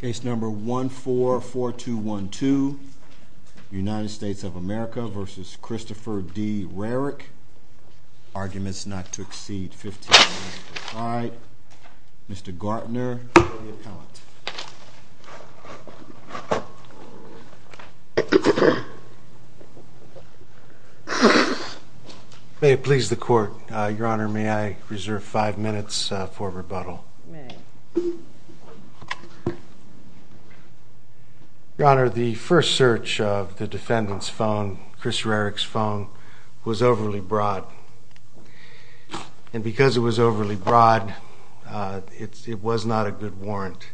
Case number 144212 United States of America v. Christopher D. Rarick. Arguments not to exceed 15 minutes. Mr. Gartner, the appellant. May it please the court, your honor, may I reserve five minutes for rebuttal. Your honor, the first search of the defendant's phone, Chris Rarick's phone, was overly broad. And because it was overly broad, it was not a good warrant.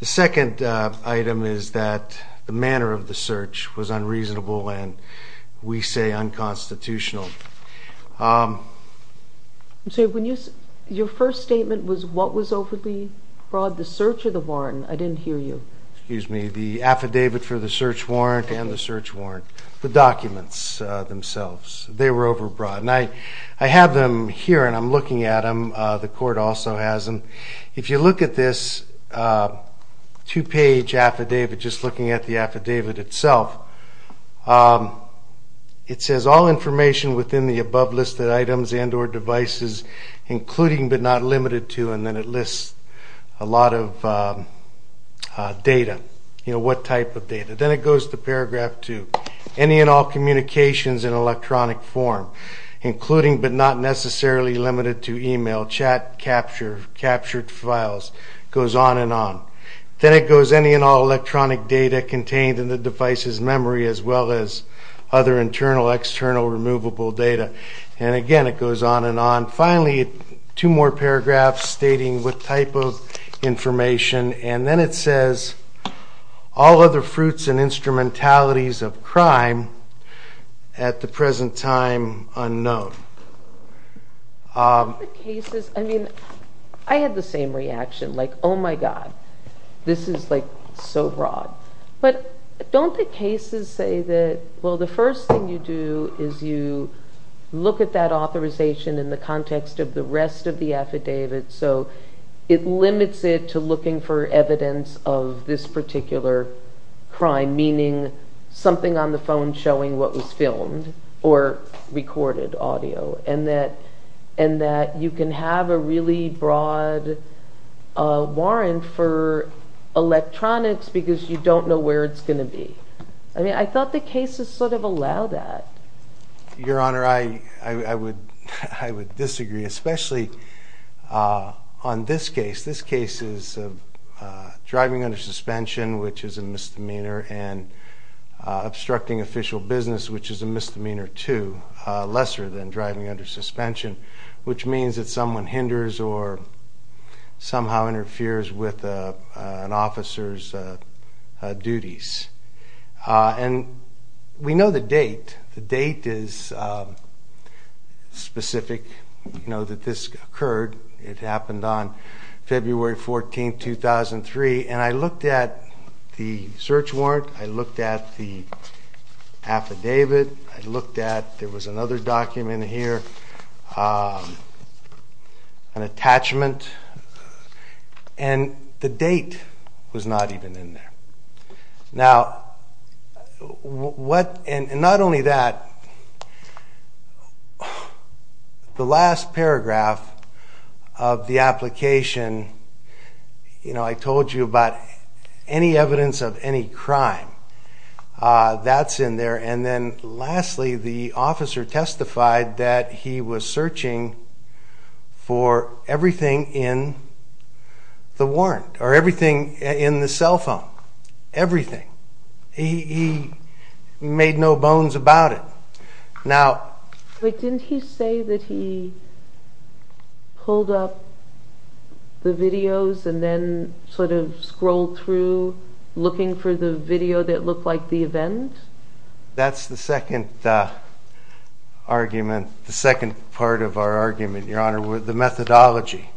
The second item is that the manner of the search was unreasonable and, we say, unconstitutional. I'm sorry, your first statement was what was overly broad, the search or the warrant? I didn't hear you. Excuse me, the affidavit for the search warrant and the search warrant, the documents themselves, they were overbroad. And I have them here and I'm looking at them, the court also has them. If you look at this two-page affidavit, just looking at the affidavit itself, it says all information within the above listed items and or devices including but not limited to and then it lists a lot of data, you know, what type of data. Then it goes to paragraph two, any and all communications in electronic form including but not necessarily limited to email, chat, capture, captured files, goes on and on. Then it goes any and all electronic data contained in the device's memory as well as other internal, external, removable data. And again, it goes on and on. Finally, two more paragraphs stating what type of information and then it says, all other fruits and instrumentalities of crime at the present time unknown. The cases, I mean, I had the same reaction, like, oh my God, this is like so broad. But don't the cases say that, well, the first thing you do is you look at that authorization in the context of the rest of the affidavit so it limits it to looking for evidence of this particular crime meaning something on the phone showing what was filmed or recorded audio and that you can have a really broad warrant for electronics because you don't know where it's going to be. I mean, I thought the cases sort of allow that. Your Honor, I would disagree especially on this case. This case is driving under suspension which is a misdemeanor and obstructing official business which is a misdemeanor too, lesser than driving under suspension which means that someone hinders or somehow interferes with an officer's duties. And we know the date. The date is specific, you know, that this occurred. It happened on February 14, 2003 and I looked at the search warrant, I looked at the affidavit, I looked at, there was another document here, an attachment and the date was not even in there. Now, what and not only that, the last paragraph of the application, you know, I told you about any evidence of any crime, that's in there and then lastly the officer testified that he was searching for everything in the warrant or everything in the cell phone, everything. He made no bones about it. Now... Wait, didn't he say that he pulled up the videos and then sort of scrolled through looking for the video that looked like the event? That's the second argument, the second part of our argument, Your Honor, with the methodology.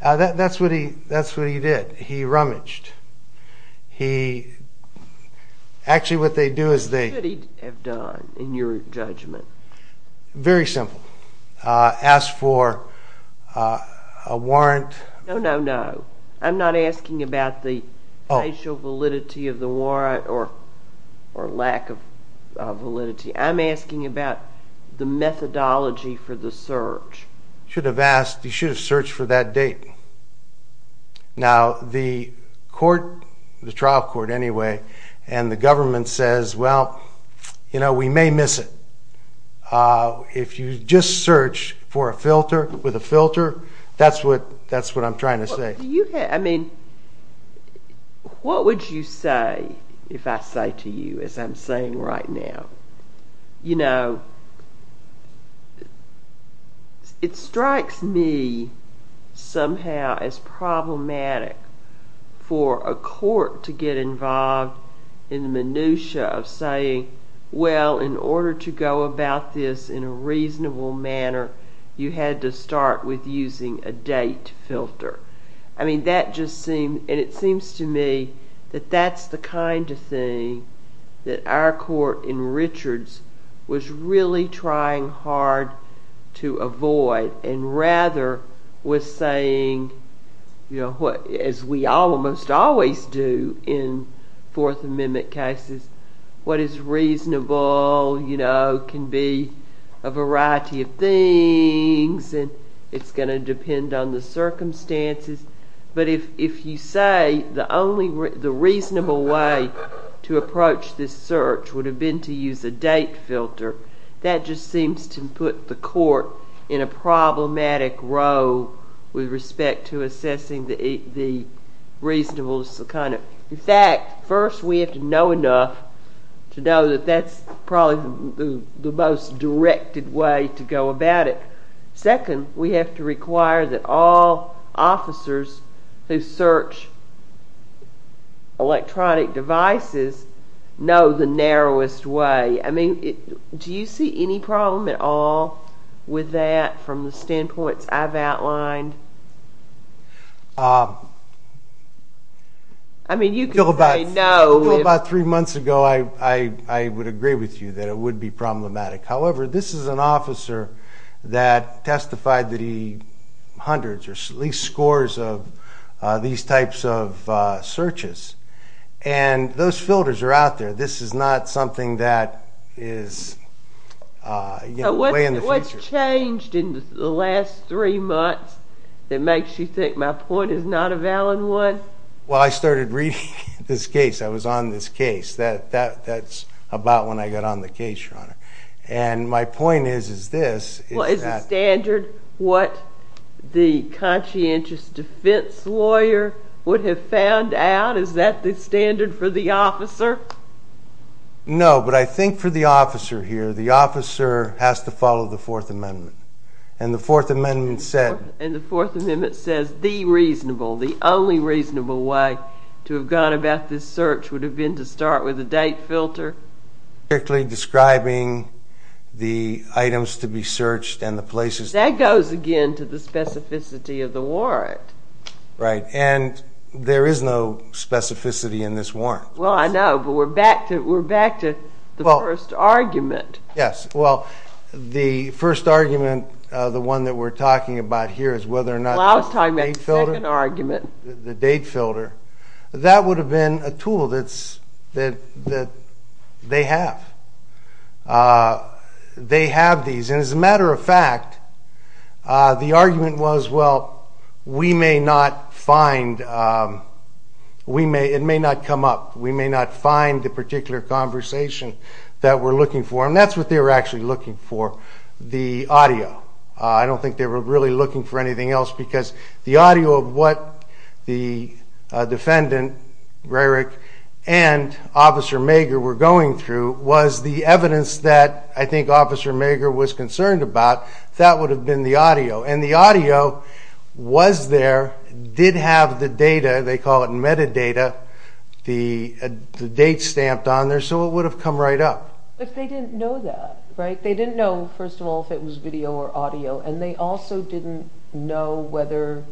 That's what he did. He rummaged. He, actually what they do is they... What should he have done in your judgment? Very simple. Ask for a warrant. No, no, no. I'm not asking about the facial validity of the warrant or lack of validity. I'm asking about the methodology for the search. Should have asked, you should have searched for that date. Now, the court, the trial court anyway, and the government says, well, you know, we may miss it. If you just search for a filter, with a filter, that's what I'm trying to say. I mean, what would you say if I say to you, as I'm saying right now, you know, it strikes me somehow as problematic for a court to get involved in the minutia of saying, well, in order to go about this in a reasonable manner, you had to start with using a date filter. I mean, that just seemed, and it seems to me that that's the kind of thing that our court in Richards was really trying hard to avoid, and rather was saying, you know, as we almost always do in Fourth Amendment cases, what is reasonable, you know, can be a variety of things, and it's going to depend on the circumstances. But if you say the only reasonable way to approach this search would have been to use a date filter, that just seems to put the court in a problematic role with respect to assessing the reasonable kind of. In fact, first, we have to know enough to know that that's probably the most directed way to go about it. Second, we have to require that all officers who search electronic devices know the narrowest way. I mean, do you see any problem at all with that from the standpoints I've outlined? I mean, you could say, no. Until about three months ago, I would agree with you that it would be problematic. However, this is an officer that testified that he hundreds or at least scores of these types of searches. And those filters are out there. This is not something that is way in the future. So what's changed in the last three months that makes you think my point is not a valid one? Well, I started reading this case. I was on this case. That's about when I got on the case, Your Honor. And my point is this. Well, is the standard what the conscientious defense lawyer would have found out? Is that the standard for the officer? No, but I think for the officer here, the officer has to follow the Fourth Amendment. And the Fourth Amendment said. And the Fourth Amendment says the reasonable, the only reasonable way to have gone about this search would have been to start with a date filter. Directly describing the items to be searched and the places. That goes again to the specificity of the warrant. Right, and there is no specificity in this warrant. Well, I know, but we're back to the first argument. Yes, well, the first argument, the one that we're talking about here, is whether or not the date filter, the date filter, that would have been a tool that they have. They have these. And as a matter of fact, the argument was, well, we may not find, it may not come up, we may not find the particular conversation that we're looking for. And that's what they were actually looking for, the audio. I don't think they were really looking for anything else. Because the audio of what the defendant, Rarick, and Officer Maeger were going through was the evidence that I think Officer Maeger was concerned about. That would have been the audio. And the audio was there, did have the data, they call it metadata, the date stamped on there. So it would have come right up. But they didn't know that, right? They didn't know, first of all, if it was video or audio. And they also didn't know whether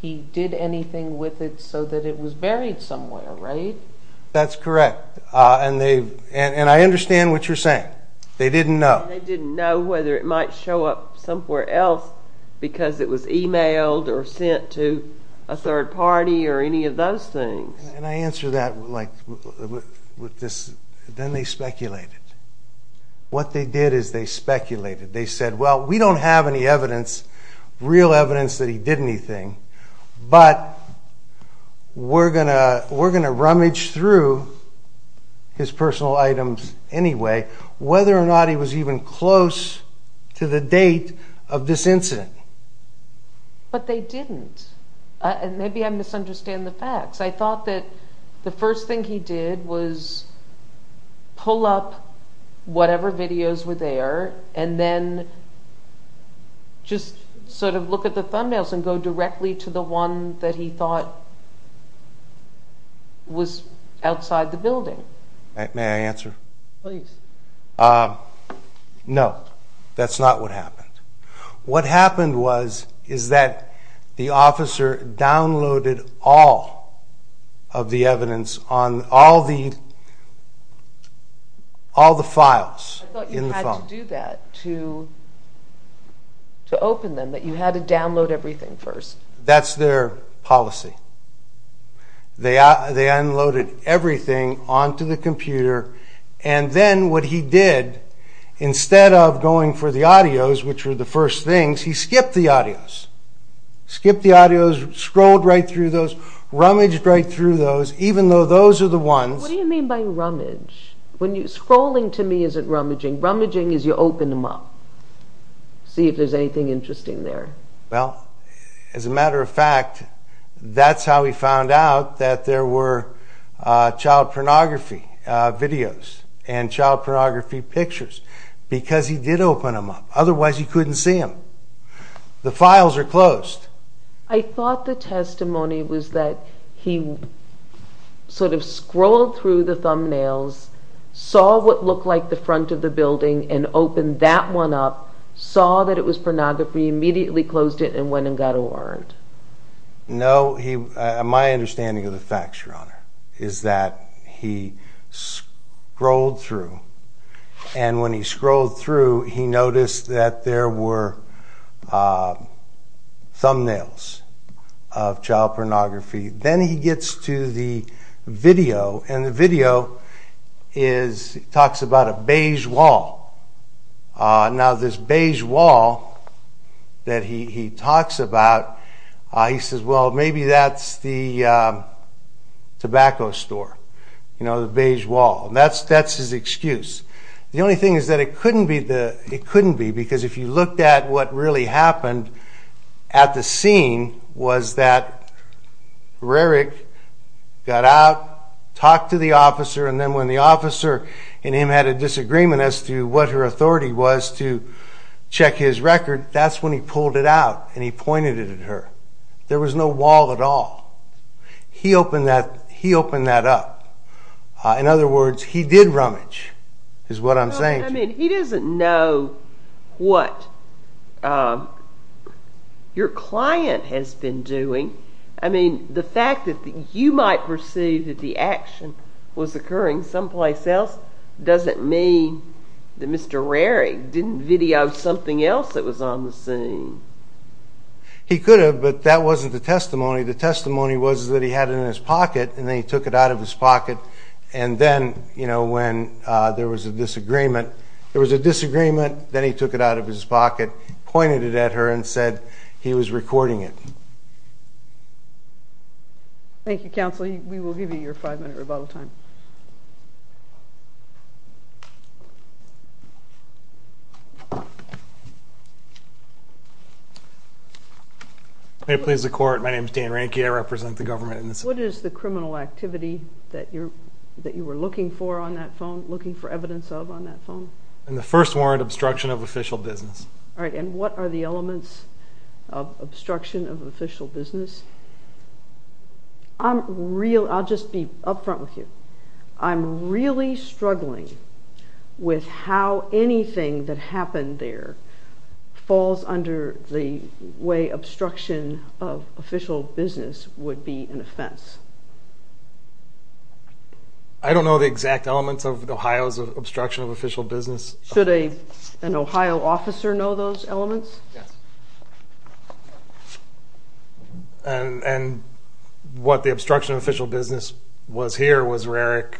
he did anything with it so that it was buried somewhere, right? That's correct. And I understand what you're saying. They didn't know. They didn't know whether it might show up somewhere else because it was emailed or sent to a third party or any of those things. And I answer that with this, then they speculated. What they did is they speculated. They said, well, we don't have any evidence, real evidence, that he did anything. But we're going to rummage through his personal items anyway, whether or not he was even close to the date of this incident. But they didn't. And maybe I misunderstand the facts. I thought that the first thing he did was pull up whatever videos were there and then just sort of look at the thumbnails and go directly to the one that he thought was outside the building. May I answer? Please. No, that's not what happened. What happened is that the officer downloaded all of the evidence on all the files in the phone. I thought you had to do that to open them, that you had to download everything first. That's their policy. They unloaded everything onto the computer. And then what he did, instead of going for the audios, which were the first things, he skipped the audios. Skipped the audios, scrolled right through those, rummaged right through those, even though those are the ones. What do you mean by rummage? Scrolling to me isn't rummaging. Rummaging is you open them up, see if there's anything interesting there. Well, as a matter of fact, that's how he found out that there were child pornography videos and child pornography pictures. Because he did open them up. Otherwise, he couldn't see them. The files are closed. I thought the testimony was that he sort of scrolled through the thumbnails, saw what looked like the front of the building, and opened that one up, saw that it was pornography, immediately closed it, and went and got a warrant. No, my understanding of the facts, Your Honor, is that he scrolled through. And when he scrolled through, he noticed that there were thumbnails of child pornography. Then he gets to the video. And the video talks about a beige wall. Now, this beige wall that he talks about, he says, well, maybe that's the tobacco store, the beige wall. That's his excuse. The only thing is that it couldn't be. Because if you looked at what really happened at the scene, was that Rarick got out, talked to the officer. And then when the officer and him had a disagreement as to what her authority was to check his record, that's when he pulled it out and he pointed it at her. There was no wall at all. He opened that up. In other words, he did rummage, is what I'm saying. I mean, he doesn't know what your client has been doing. I mean, the fact that you might perceive that the action was occurring someplace else doesn't mean that Mr. Rarick didn't video something else that was on the scene. He could have, but that wasn't the testimony. The testimony was that he had it in his pocket, and then he took it out of his pocket. And then when there was a disagreement, then he took it out of his pocket, pointed it at her, and said he was recording it. Thank you, counsel. We will give you your five-minute rebuttal time. May it please the court, my name is Dan Ranke. I represent the government. What is the criminal activity that you were looking for on that phone, looking for evidence of on that phone? In the first warrant, obstruction of official business. All right, and what are the elements of obstruction of official business? I'm real, I'll just be up front with you. I'm really struggling with how anything that happened there falls under the way obstruction of official business would be an offense. I don't know the exact elements of Ohio's obstruction of official business. Should an Ohio officer know those elements? Yes. And what the obstruction of official business was here was Rarick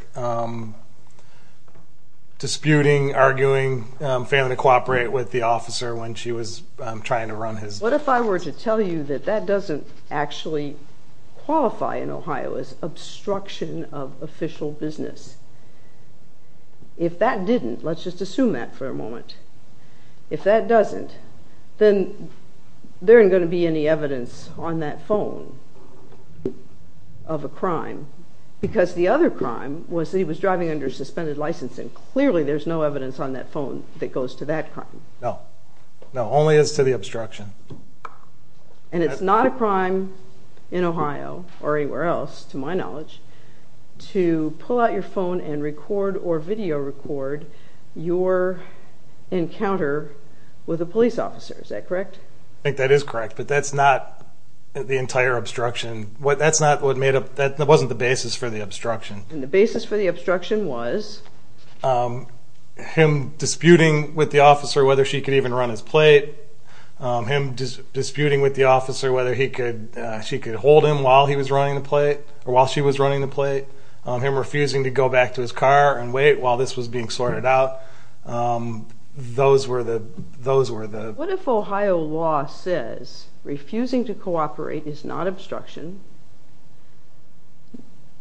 disputing, arguing, failing to cooperate with the officer when she was trying to run his business. What if I were to tell you that that doesn't actually qualify in Ohio as obstruction of official business? If that didn't, let's just assume that for a moment. If that doesn't, then there ain't going to be any evidence on that phone of a crime. Because the other crime was that he was driving under suspended license, and clearly there's no evidence on that phone that goes to that crime. No. No, only as to the obstruction. And it's not a crime in Ohio, or anywhere else to my knowledge, to pull out your phone and record or video record your encounter with a police officer. Is that correct? I think that is correct. But that's not the entire obstruction. That's not what made up, that wasn't the basis for the obstruction. And the basis for the obstruction was? Him disputing with the officer whether she could even run his plate. Him disputing with the officer whether she could hold him while he was running the plate, or while she was running the plate. Him refusing to go back to his car and wait while this was being sorted out. Those were the, those were the. What if Ohio law says refusing to cooperate is not obstruction?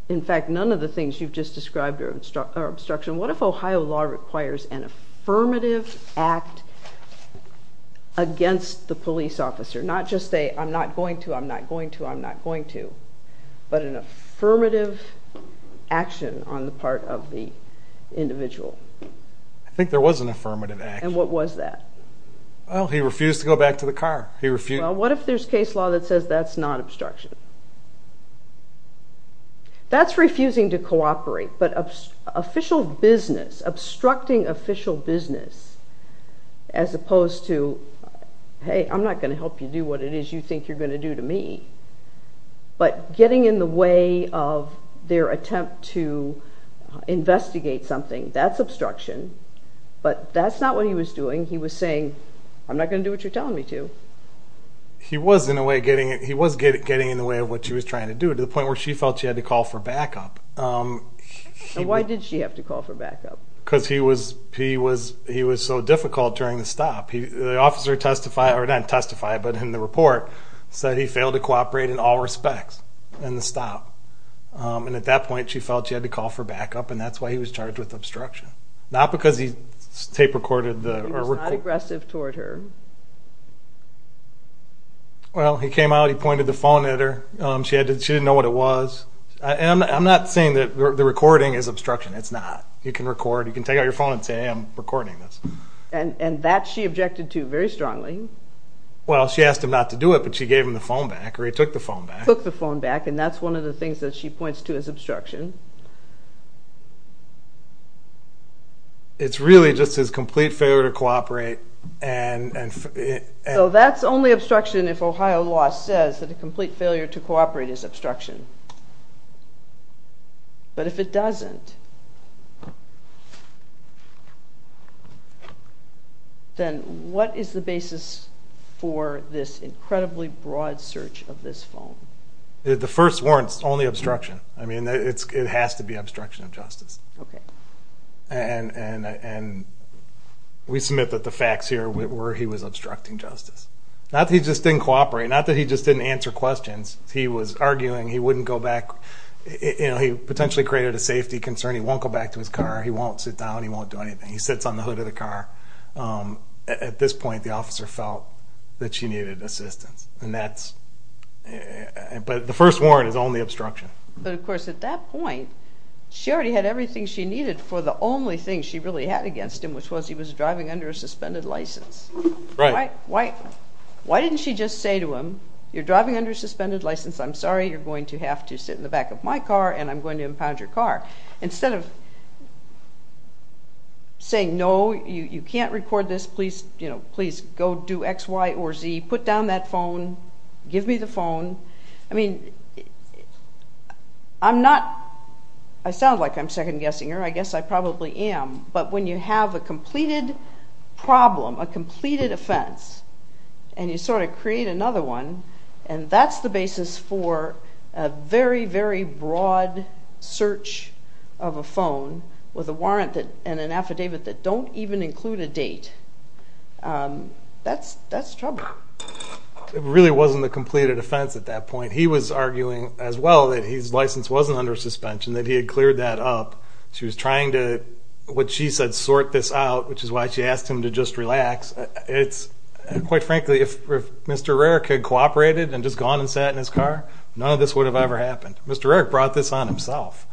In fact, none of the things you've just described are obstruction. What if Ohio law requires an affirmative act against the police officer? Not just say, I'm not going to, I'm not going to, I'm not going to. But an affirmative action on the part of the individual. I think there was an affirmative action. And what was that? Well, he refused to go back to the car. He refused. Well, what if there's case law that says that's not obstruction? That's refusing to cooperate. But official business, obstructing official business, as opposed to, hey, I'm not going to help you do what it is you think you're going to do to me. But getting in the way of their attempt to investigate something, that's obstruction. But that's not what he was doing. He was saying, I'm not going to do what you're telling me to. He was, in a way, getting it. He was getting in the way of what she was trying to do, to the point where she felt she had to call for backup. And why did she have to call for backup? Because he was so difficult during the stop. The officer testified, or not testified, but in the report, said he failed to cooperate in all respects in the stop. And at that point, she felt she had to call for backup. And that's why he was charged with obstruction. Not because he tape recorded the record. He was not aggressive toward her. Well, he came out. He pointed the phone at her. She didn't know what it was. And I'm not saying that the recording is obstruction. It's not. You can record. You can take out your phone and say, hey, I'm recording this. And that she objected to very strongly. Well, she asked him not to do it. But she gave him the phone back. Or he took the phone back. Took the phone back. And that's one of the things that she points to as obstruction. It's really just his complete failure to cooperate. So that's only obstruction if Ohio law says that a complete failure to cooperate is obstruction. But if it doesn't, then what is the basis for this incredibly broad search of this phone? The first warrant's only obstruction. I mean, it has to be obstruction of justice. And we submit that the facts here were he was obstructing justice. Not that he just didn't cooperate. Not that he just didn't answer questions. He was arguing he wouldn't go back. He potentially created a safety concern. He won't go back to his car. He won't sit down. He won't do anything. He sits on the hood of the car. At this point, the officer felt that she needed assistance. But the first warrant is only obstruction. But of course, at that point, she already had everything she needed for the only thing she really had against him, which was he was driving under a suspended license. Right. Why didn't she just say to him, you're driving under a suspended license. I'm sorry. You're going to have to sit in the back of my car. And I'm going to impound your car. Instead of saying, no, you can't record this. Please go do x, y, or z. Put down that phone. Give me the phone. I mean, I sound like I'm second guessing her. I guess I probably am. But when you have a completed problem, a completed offense, and you sort of create another one, and that's the basis for a very, very broad search of a phone with a warrant and an affidavit that don't even include a date, that's trouble. It really wasn't a completed offense at that point. He was arguing as well that his license wasn't under suspension, that he had cleared that up. She was trying to, what she said, sort this out, which is why she asked him to just relax. It's, quite frankly, if Mr. Rarick had cooperated and just gone and sat in his car, none of this would have ever happened. Mr. Rarick brought this on himself.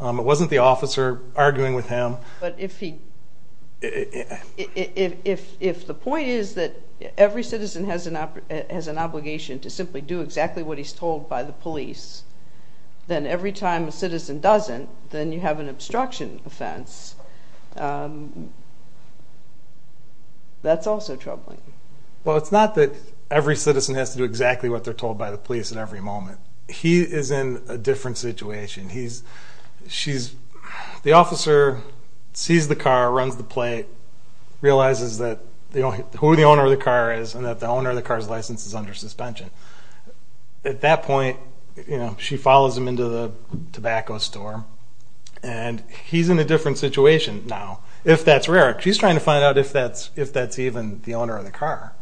It wasn't the officer arguing with him. But if the point is that every citizen has an obligation to simply do exactly what he's told by the police, then every time a citizen doesn't, then you have an obstruction offense. That's also troubling. Well, it's not that every citizen has to do exactly what they're told by the police at every moment. He is in a different situation. The officer sees the car, runs the plate, realizes who the owner of the car is and that the owner of the car's license is under suspension. At that point, she follows him into the tobacco store. And he's in a different situation now, if that's Rarick. She's trying to find out if that's even the owner of the car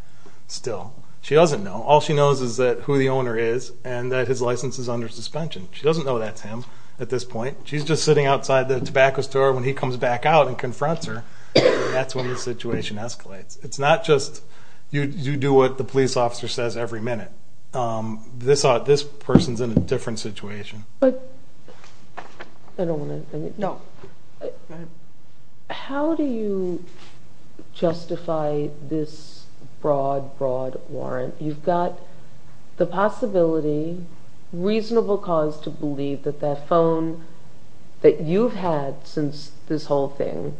still. She doesn't know. All she knows is that who the owner is and that his license is under suspension. She doesn't know that's him at this point. She's just sitting outside the tobacco store. When he comes back out and confronts her, that's when the situation escalates. It's not just you do what the police officer says every minute. This person's in a different situation. I don't want to... How do you justify this broad, broad warrant? You've got the possibility, reasonable cause to believe that that phone that you've had since this whole thing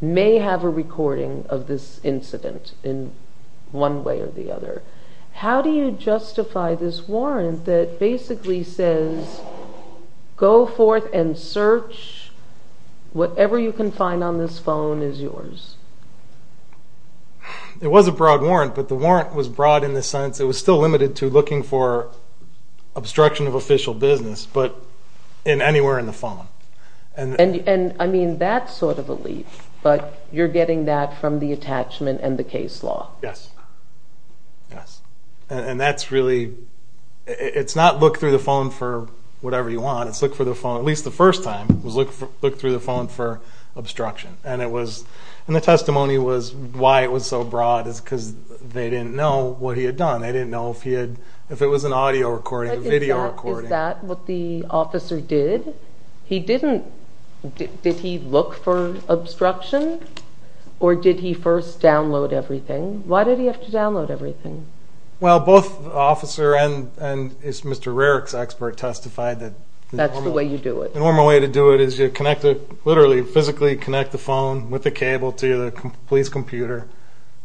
may have a recording of this incident in one way or the other. How do you justify this warrant that basically says, go forth and search, whatever you can find on this phone is yours? It was a broad warrant, but the warrant was broad in the sense it was still limited to looking for obstruction of official business, but in anywhere in the phone. And I mean, that's sort of a leap, but you're getting that from the attachment and the case law. Yes. Yes. And that's really, it's not look through the phone for whatever you want, it's look for the phone, at least the first time, was look through the phone for obstruction. And it was... And the testimony was why it was so broad is because they didn't know what he had done. They didn't know if he had... If it was an audio recording, a video recording. Is that what the officer did? He didn't... Did he look for obstruction or did he first download everything? Why did he have to download everything? Well, both officer and Mr. Rarick's expert testified that... That's the way you do it. The normal way to do it is you connect it, literally physically connect the phone with the cable to the police computer,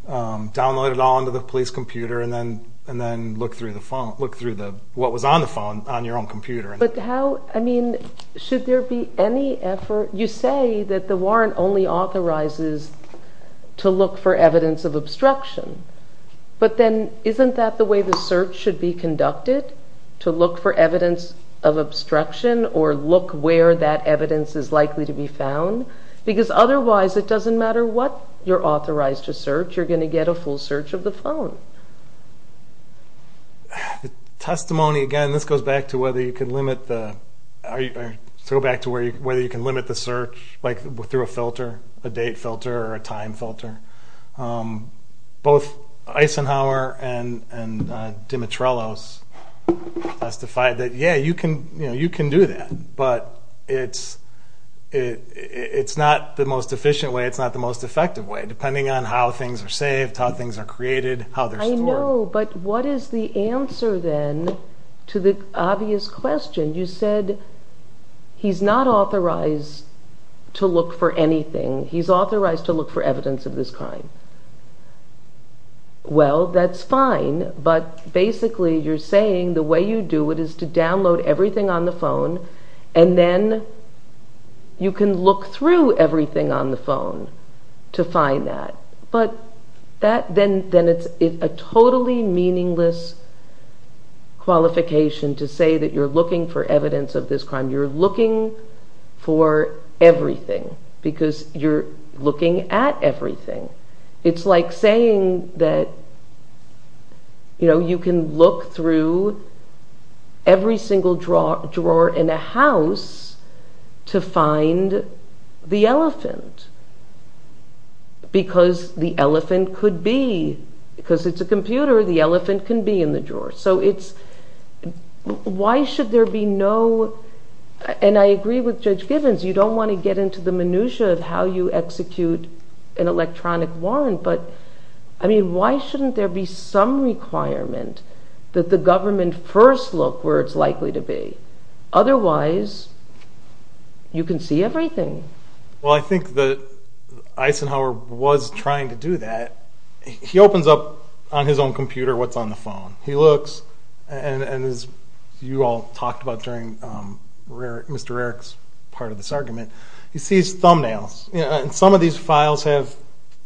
download it all into the police computer and then look through the phone, look through what was on the phone on your own computer. But how, I mean, should there be any effort? You say that the warrant only authorizes to look for evidence of obstruction, but then isn't that the way the search should be conducted, to look for evidence of obstruction or look where that evidence is likely to be found? Because otherwise, it doesn't matter what you're authorized to search, you're going to get a full search of the phone. Testimony, again, this goes back to whether you can limit the... Or go back to whether you can limit the search, like through a filter, a date filter or a time filter. Both Eisenhower and Dimitrelos testified that, yeah, you can do that, but it's not the most efficient way, it's not the most effective way, depending on how things are saved, how things are created, how they're stored. I know, but what is the answer then to the obvious question? You said he's not authorized to look for anything, he's authorized to look for evidence of this crime. Well, that's fine, but basically you're saying the way you do it is to download everything on the phone and then you can look through everything on the phone to find that. But then it's a totally meaningless qualification to say that you're looking for evidence of this crime, you're looking for everything because you're looking at everything. It's like saying that you can look through every single drawer in a house to find the elephant because the elephant could be... Because it's a computer, the elephant can be in the drawer. So it's... Why should there be no... And I agree with Judge Givens, you don't want to get into the minutiae of how you execute an electronic warrant, but why shouldn't there be some requirement that the government first look where it's likely to be? Otherwise, you can see everything. Well, I think that Eisenhower was trying to do that. He opens up on his own computer what's on the phone. He looks, and as you all talked about during Mr. Rarick's part of this argument, he sees thumbnails. Some of these files have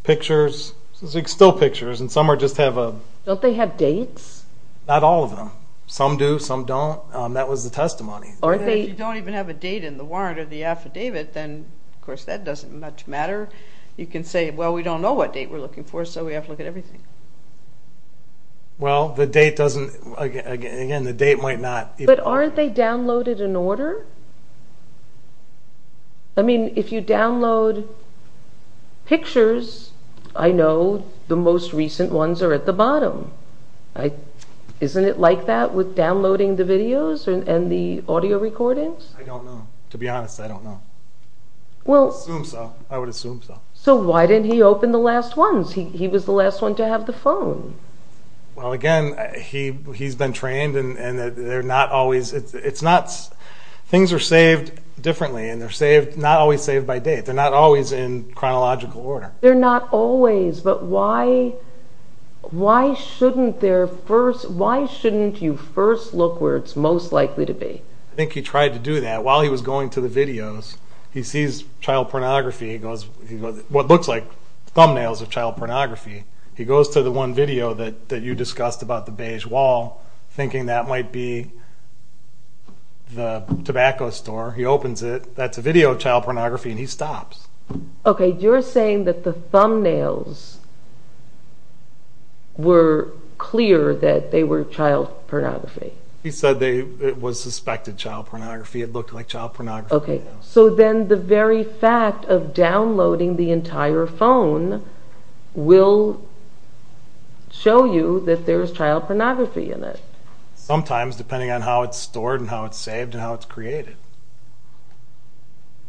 pictures, still pictures, and some just have a... Don't they have dates? Not all of them. Some do, some don't. That was the testimony. If you don't even have a date in the warrant or the affidavit, then of course that doesn't much matter. You can say, well, we don't know what date we're looking for, so we have to look at everything. Well, the date doesn't... Again, the date might not... But aren't they downloaded in order? I mean, if you download pictures, I know the most recent ones are at the bottom. Isn't it like that with downloading the videos and the audio recordings? I don't know. To be honest, I don't know. I would assume so. So why didn't he open the last ones? He was the last one to have the phone. Well, again, he's been trained, and they're not always... Things are saved differently, and they're not always saved by date. They're not always in chronological order. They're not always, but why shouldn't you first look where it's most likely to be? I think he tried to do that. While he was going to the videos, he sees child pornography. What looks like thumbnails of child pornography. He goes to the one video that you discussed about the beige wall, thinking that might be the tobacco store. He opens it. That's a video of child pornography, and he stops. Okay, you're saying that the thumbnails were clear that they were child pornography. He said it was suspected child pornography. It looked like child pornography. So then the very fact of downloading the entire phone will show you that there's child pornography in it. Sometimes, depending on how it's stored and how it's saved and how it's created.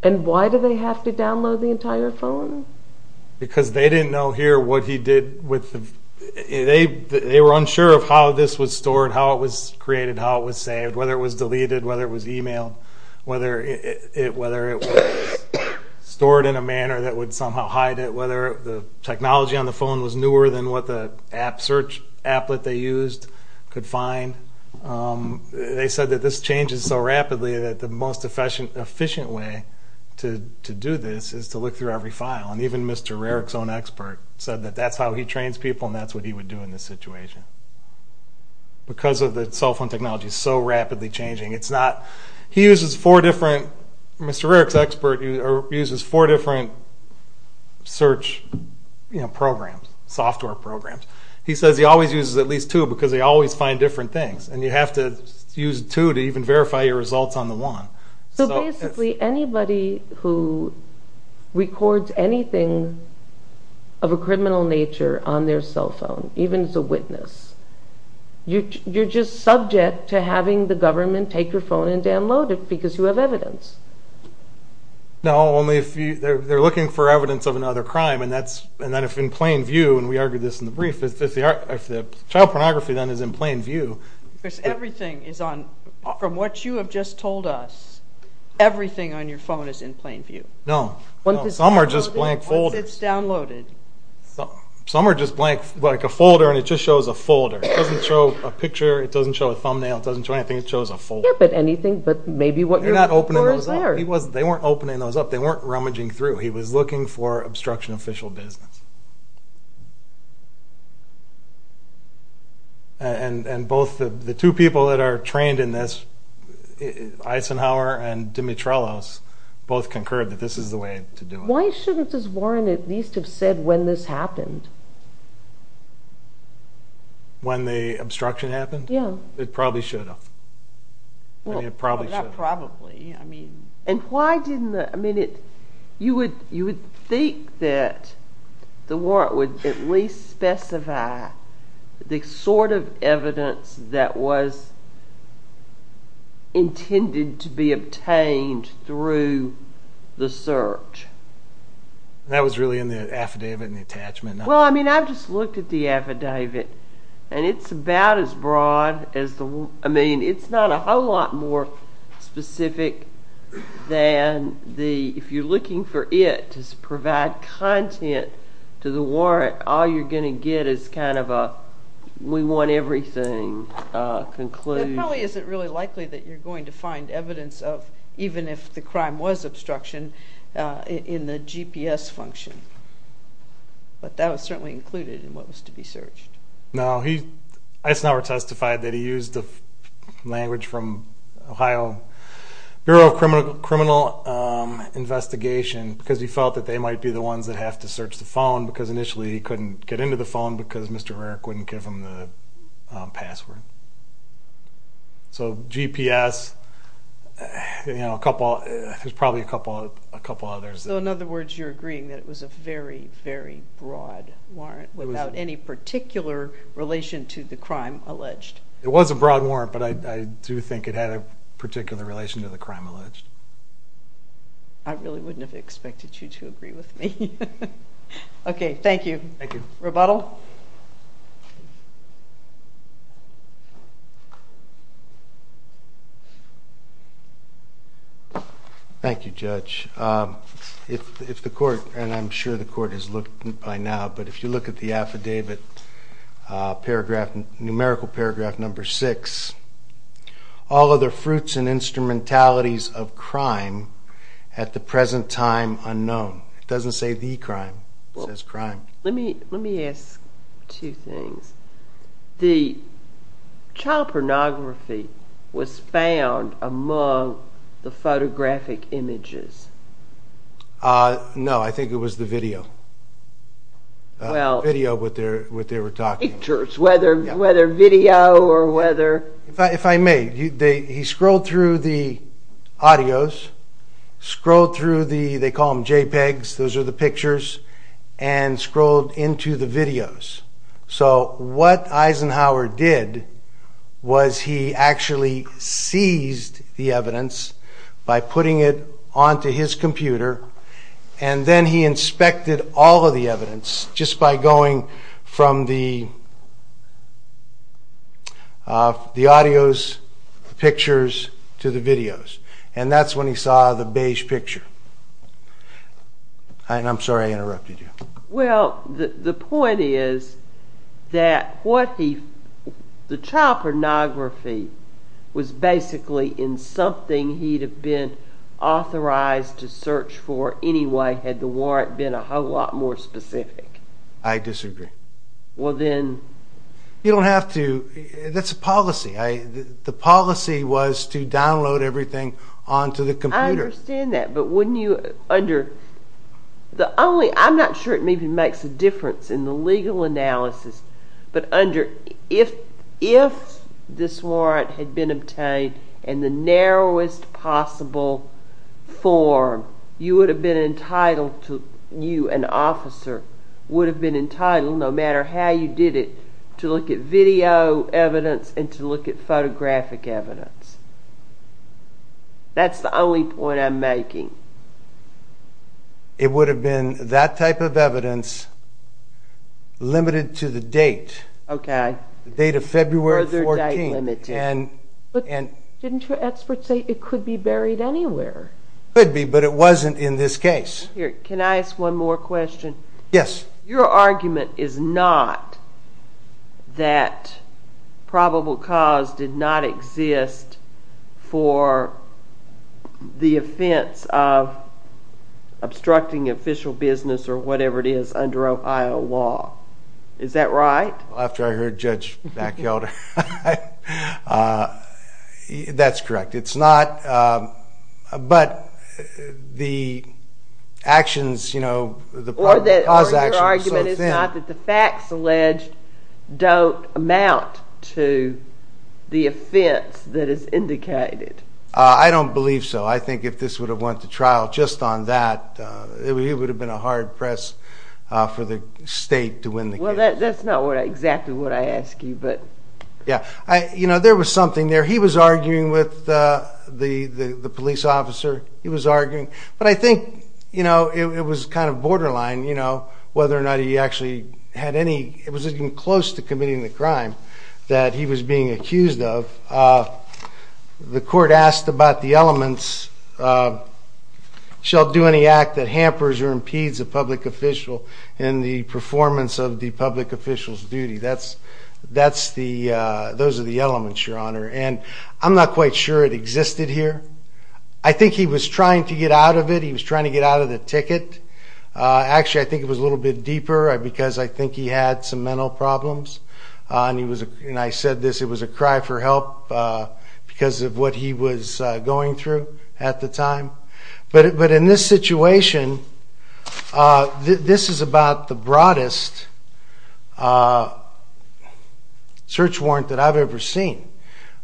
And why do they have to download the entire phone? Because they didn't know here what he did with the... They were unsure of how this was stored, how it was created, how it was saved, whether it was deleted, whether it was emailed, whether it was stored in a manner that would somehow hide it, whether the technology on the phone was newer than what the search applet they used could find. They said that this changes so rapidly that the most efficient way to do this is to look through every file. And even Mr. Rarick's own expert said that that's how he trains people, and that's what he would do in this situation because the cell phone technology is so rapidly changing. He uses four different... Mr. Rarick's expert uses four different search programs, software programs. He says he always uses at least two because they always find different things, and you have to use two to even verify your results on the one. So basically anybody who records anything of a criminal nature on their cell phone, even as a witness, you're just subject to having the government take your phone and download it because you have evidence. No, only if they're looking for evidence of another crime, and then if in plain view, and we argued this in the brief, if the child pornography then is in plain view... Because everything is on... From what you have just told us, everything on your phone is in plain view. No, some are just blank folders. Once it's downloaded. Some are just blank, like a folder, and it just shows a folder. It doesn't show a picture. It doesn't show a thumbnail. It doesn't show anything. It shows a folder. Yeah, but anything, but maybe what you're looking for is there. They weren't opening those up. They weren't rummaging through. He was looking for obstruction of official business. And both the two people that are trained in this, Eisenhower and Dimitrelos, both concurred that this is the way to do it. Why shouldn't this warrant at least have said when this happened? When the obstruction happened? Yeah. It probably should have. Well, not probably. And why didn't the... You would think that the warrant would at least specify the sort of evidence that was intended to be obtained through the search. That was really in the affidavit and the attachment. Well, I mean, I just looked at the affidavit and it's about as broad as the... I mean, it's not a whole lot more specific than the... If you're looking for it to provide content to the warrant, all you're going to get is kind of a we want everything concluded. It probably isn't really likely that you're going to find evidence of even if the crime was obstruction in the GPS function. But that was certainly included in what was to be searched. No, Eisenhower testified that he used the language from Ohio Bureau of Criminal Investigation because he felt that they might be the ones that have to search the phone because initially he couldn't get into the phone because Mr. Merrick wouldn't give him the password. So GPS... There's probably a couple others. So in other words, you're agreeing that it was a very, very broad warrant without any particular relation to the crime alleged? It was a broad warrant, but I do think it had a particular relation to the crime alleged. I really wouldn't have expected you to agree with me. Okay, thank you. Thank you. Rebuttal? Thank you, Judge. If the court, and I'm sure the court has looked by now, but if you look at the affidavit numerical paragraph number six, all other fruits and instrumentalities of crime at the present time unknown. It doesn't say the crime, it says crime. Let me ask two things. The child pornography was found among the No, I think it was the video. Video, what they were talking about. Pictures, whether video or whether... If I may, he scrolled through the audios, scrolled through the they call them JPEGs, those are the pictures, and scrolled into the videos. So what Eisenhower did was he actually seized the evidence by putting it onto his computer and then he inspected all of the evidence just by going from the the audios, the pictures, to the videos. And that's when he saw the beige picture. I'm sorry I interrupted you. Well, the point is that what he, the child pornography was basically in something he'd have been authorized to search for anyway had the warrant been a whole lot more specific. I disagree. You don't have to, that's a policy. The policy was to download everything onto the computer. I understand that, but wouldn't you under, the only, I'm not sure it makes a difference in the legal analysis but under, if this warrant had been obtained in the narrowest possible form you would have been entitled to, you an officer would have been entitled, no matter how you did it to look at video evidence and to look at photographic evidence. That's the only point I'm making. It would have been that type of evidence limited to the date. The date of February 14th. But didn't your expert say it could be buried anywhere? Could be, but it wasn't in this case. Can I ask one more question? Yes. Your argument is not that probable cause did not exist for the offense of obstructing official business or whatever it is under Ohio law. Is that right? After I heard Judge Backhelder that's correct. It's not but the actions, you know, the probable cause action Or your argument is not that the facts alleged don't amount to the offense that is indicated. I don't believe so. I think if this would have went to trial just on that it would have been a hard press for the state to win the case. That's not exactly what I asked you. There was something there he was arguing with the police officer he was arguing, but I think it was kind of borderline whether or not he actually had any, it was even close to committing the crime that he was being accused of The court asked about the elements shall do any act that hampers or impedes a public official in the performance of the public official's duty those are the elements, your honor and I'm not quite sure it existed here I think he was trying to get out of it, he was trying to get out of the ticket. Actually I think it was a little bit deeper because I think he had some mental problems and I said this, it was a cry for help because of what he was going through at the time, but in this situation this is about the broadest search warrant that I've ever seen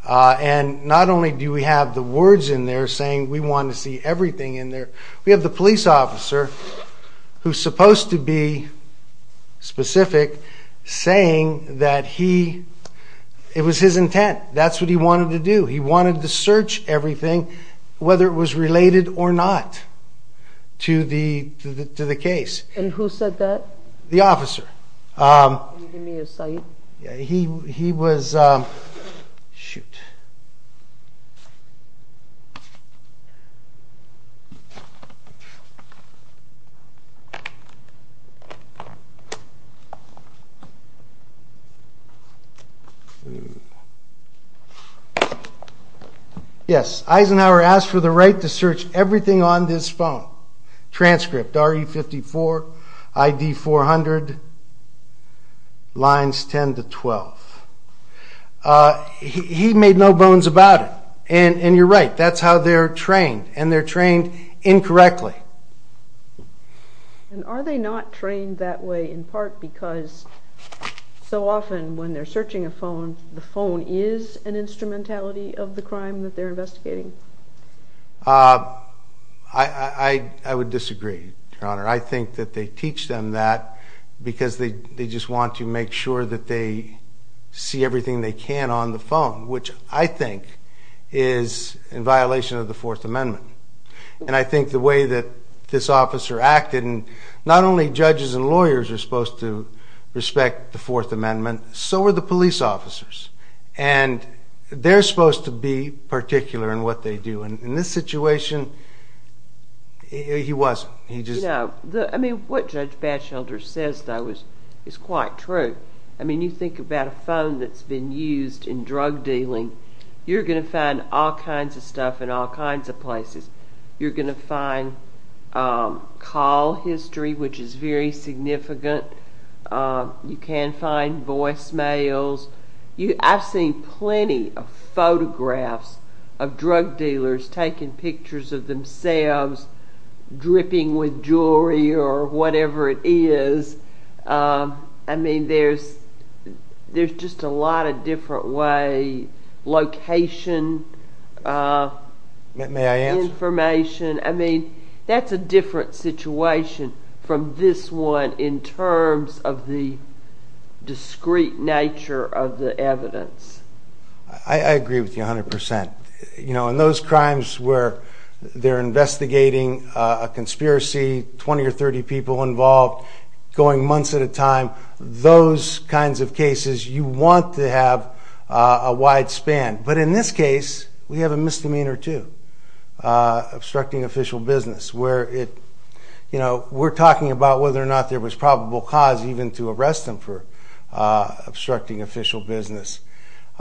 and not only do we have the words in there saying we want to see everything in there, we have the police officer who's supposed to be specific, saying that he, it was his intent, that's what he wanted to do, he wanted to search everything whether it was related or not to the case. And who said that? The officer He was Yes, Eisenhower asked for the right to search everything on this phone transcript RE54 ID 400 lines 10 to 12 He made no bones about it and you're right, that's how they're trained and they're trained incorrectly And are they not trained that way? In part because so often when they're searching a phone, the phone is an instrumentality of the crime that they're investigating I would disagree Your Honor, I think that they teach them that because they just want to make sure that they see everything they can on the phone, which I think is in violation of the 4th Amendment, and I think the way that this lawyers are supposed to respect the 4th Amendment so are the police officers and they're supposed to be particular in what they do and in this situation, he wasn't I mean, what Judge Batchelder says though is quite true I mean, you think about a phone that's been used in drug dealing you're going to find all kinds of stuff in all kinds of places, you're going to find call history, which is very significant, you can find voicemails, I've seen plenty of photographs of drug dealers taking pictures of themselves dripping with jewelry or whatever it is I mean, there's there's just a lot of different ways location information I mean, that's a different situation from this one in terms of the discreet nature of the evidence I agree with you 100% you know, in those crimes where they're investigating a conspiracy, 20 or 30 people involved, going months at a time those kinds of cases, you want to have a wide span, but in this case we have a misdemeanor too obstructing official business we're talking about whether or not there was probable cause even to arrest them for obstructing official business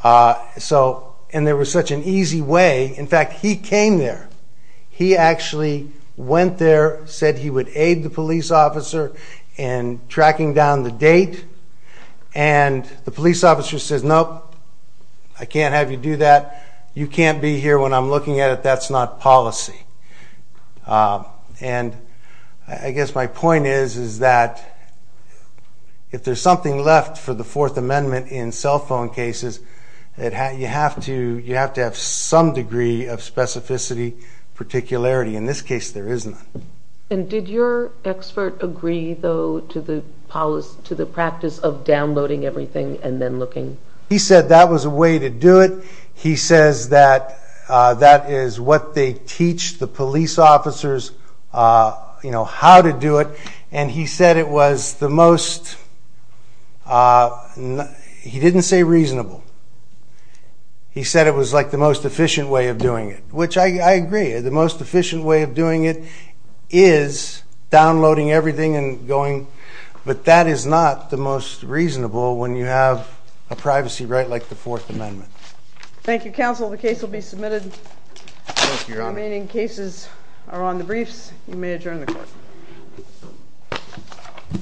and there was such an easy way in fact, he came there he actually went there, said he would aid the police officer and tracking down the date and the police officer says, nope I can't have you do that you can't be here when I'm looking at it, that's not policy and I guess my point is is that if there's something left for the Fourth Amendment in cell phone cases you have to have some degree of specificity, particularity in this case there is none and did your expert agree though to the practice of downloading everything and then looking? He said that was a way to do it he says that is what they teach the police officers how to do it, and he said it was the most he didn't say reasonable he said it was like the most efficient way of doing it which I agree, the most efficient way of doing it is downloading everything and going but that is not the most reasonable when you have a privacy right like the Fourth Amendment Thank you counsel, the case will be submitted remaining cases are on the briefs you may adjourn the court Thank you Thank you Thank you Thank you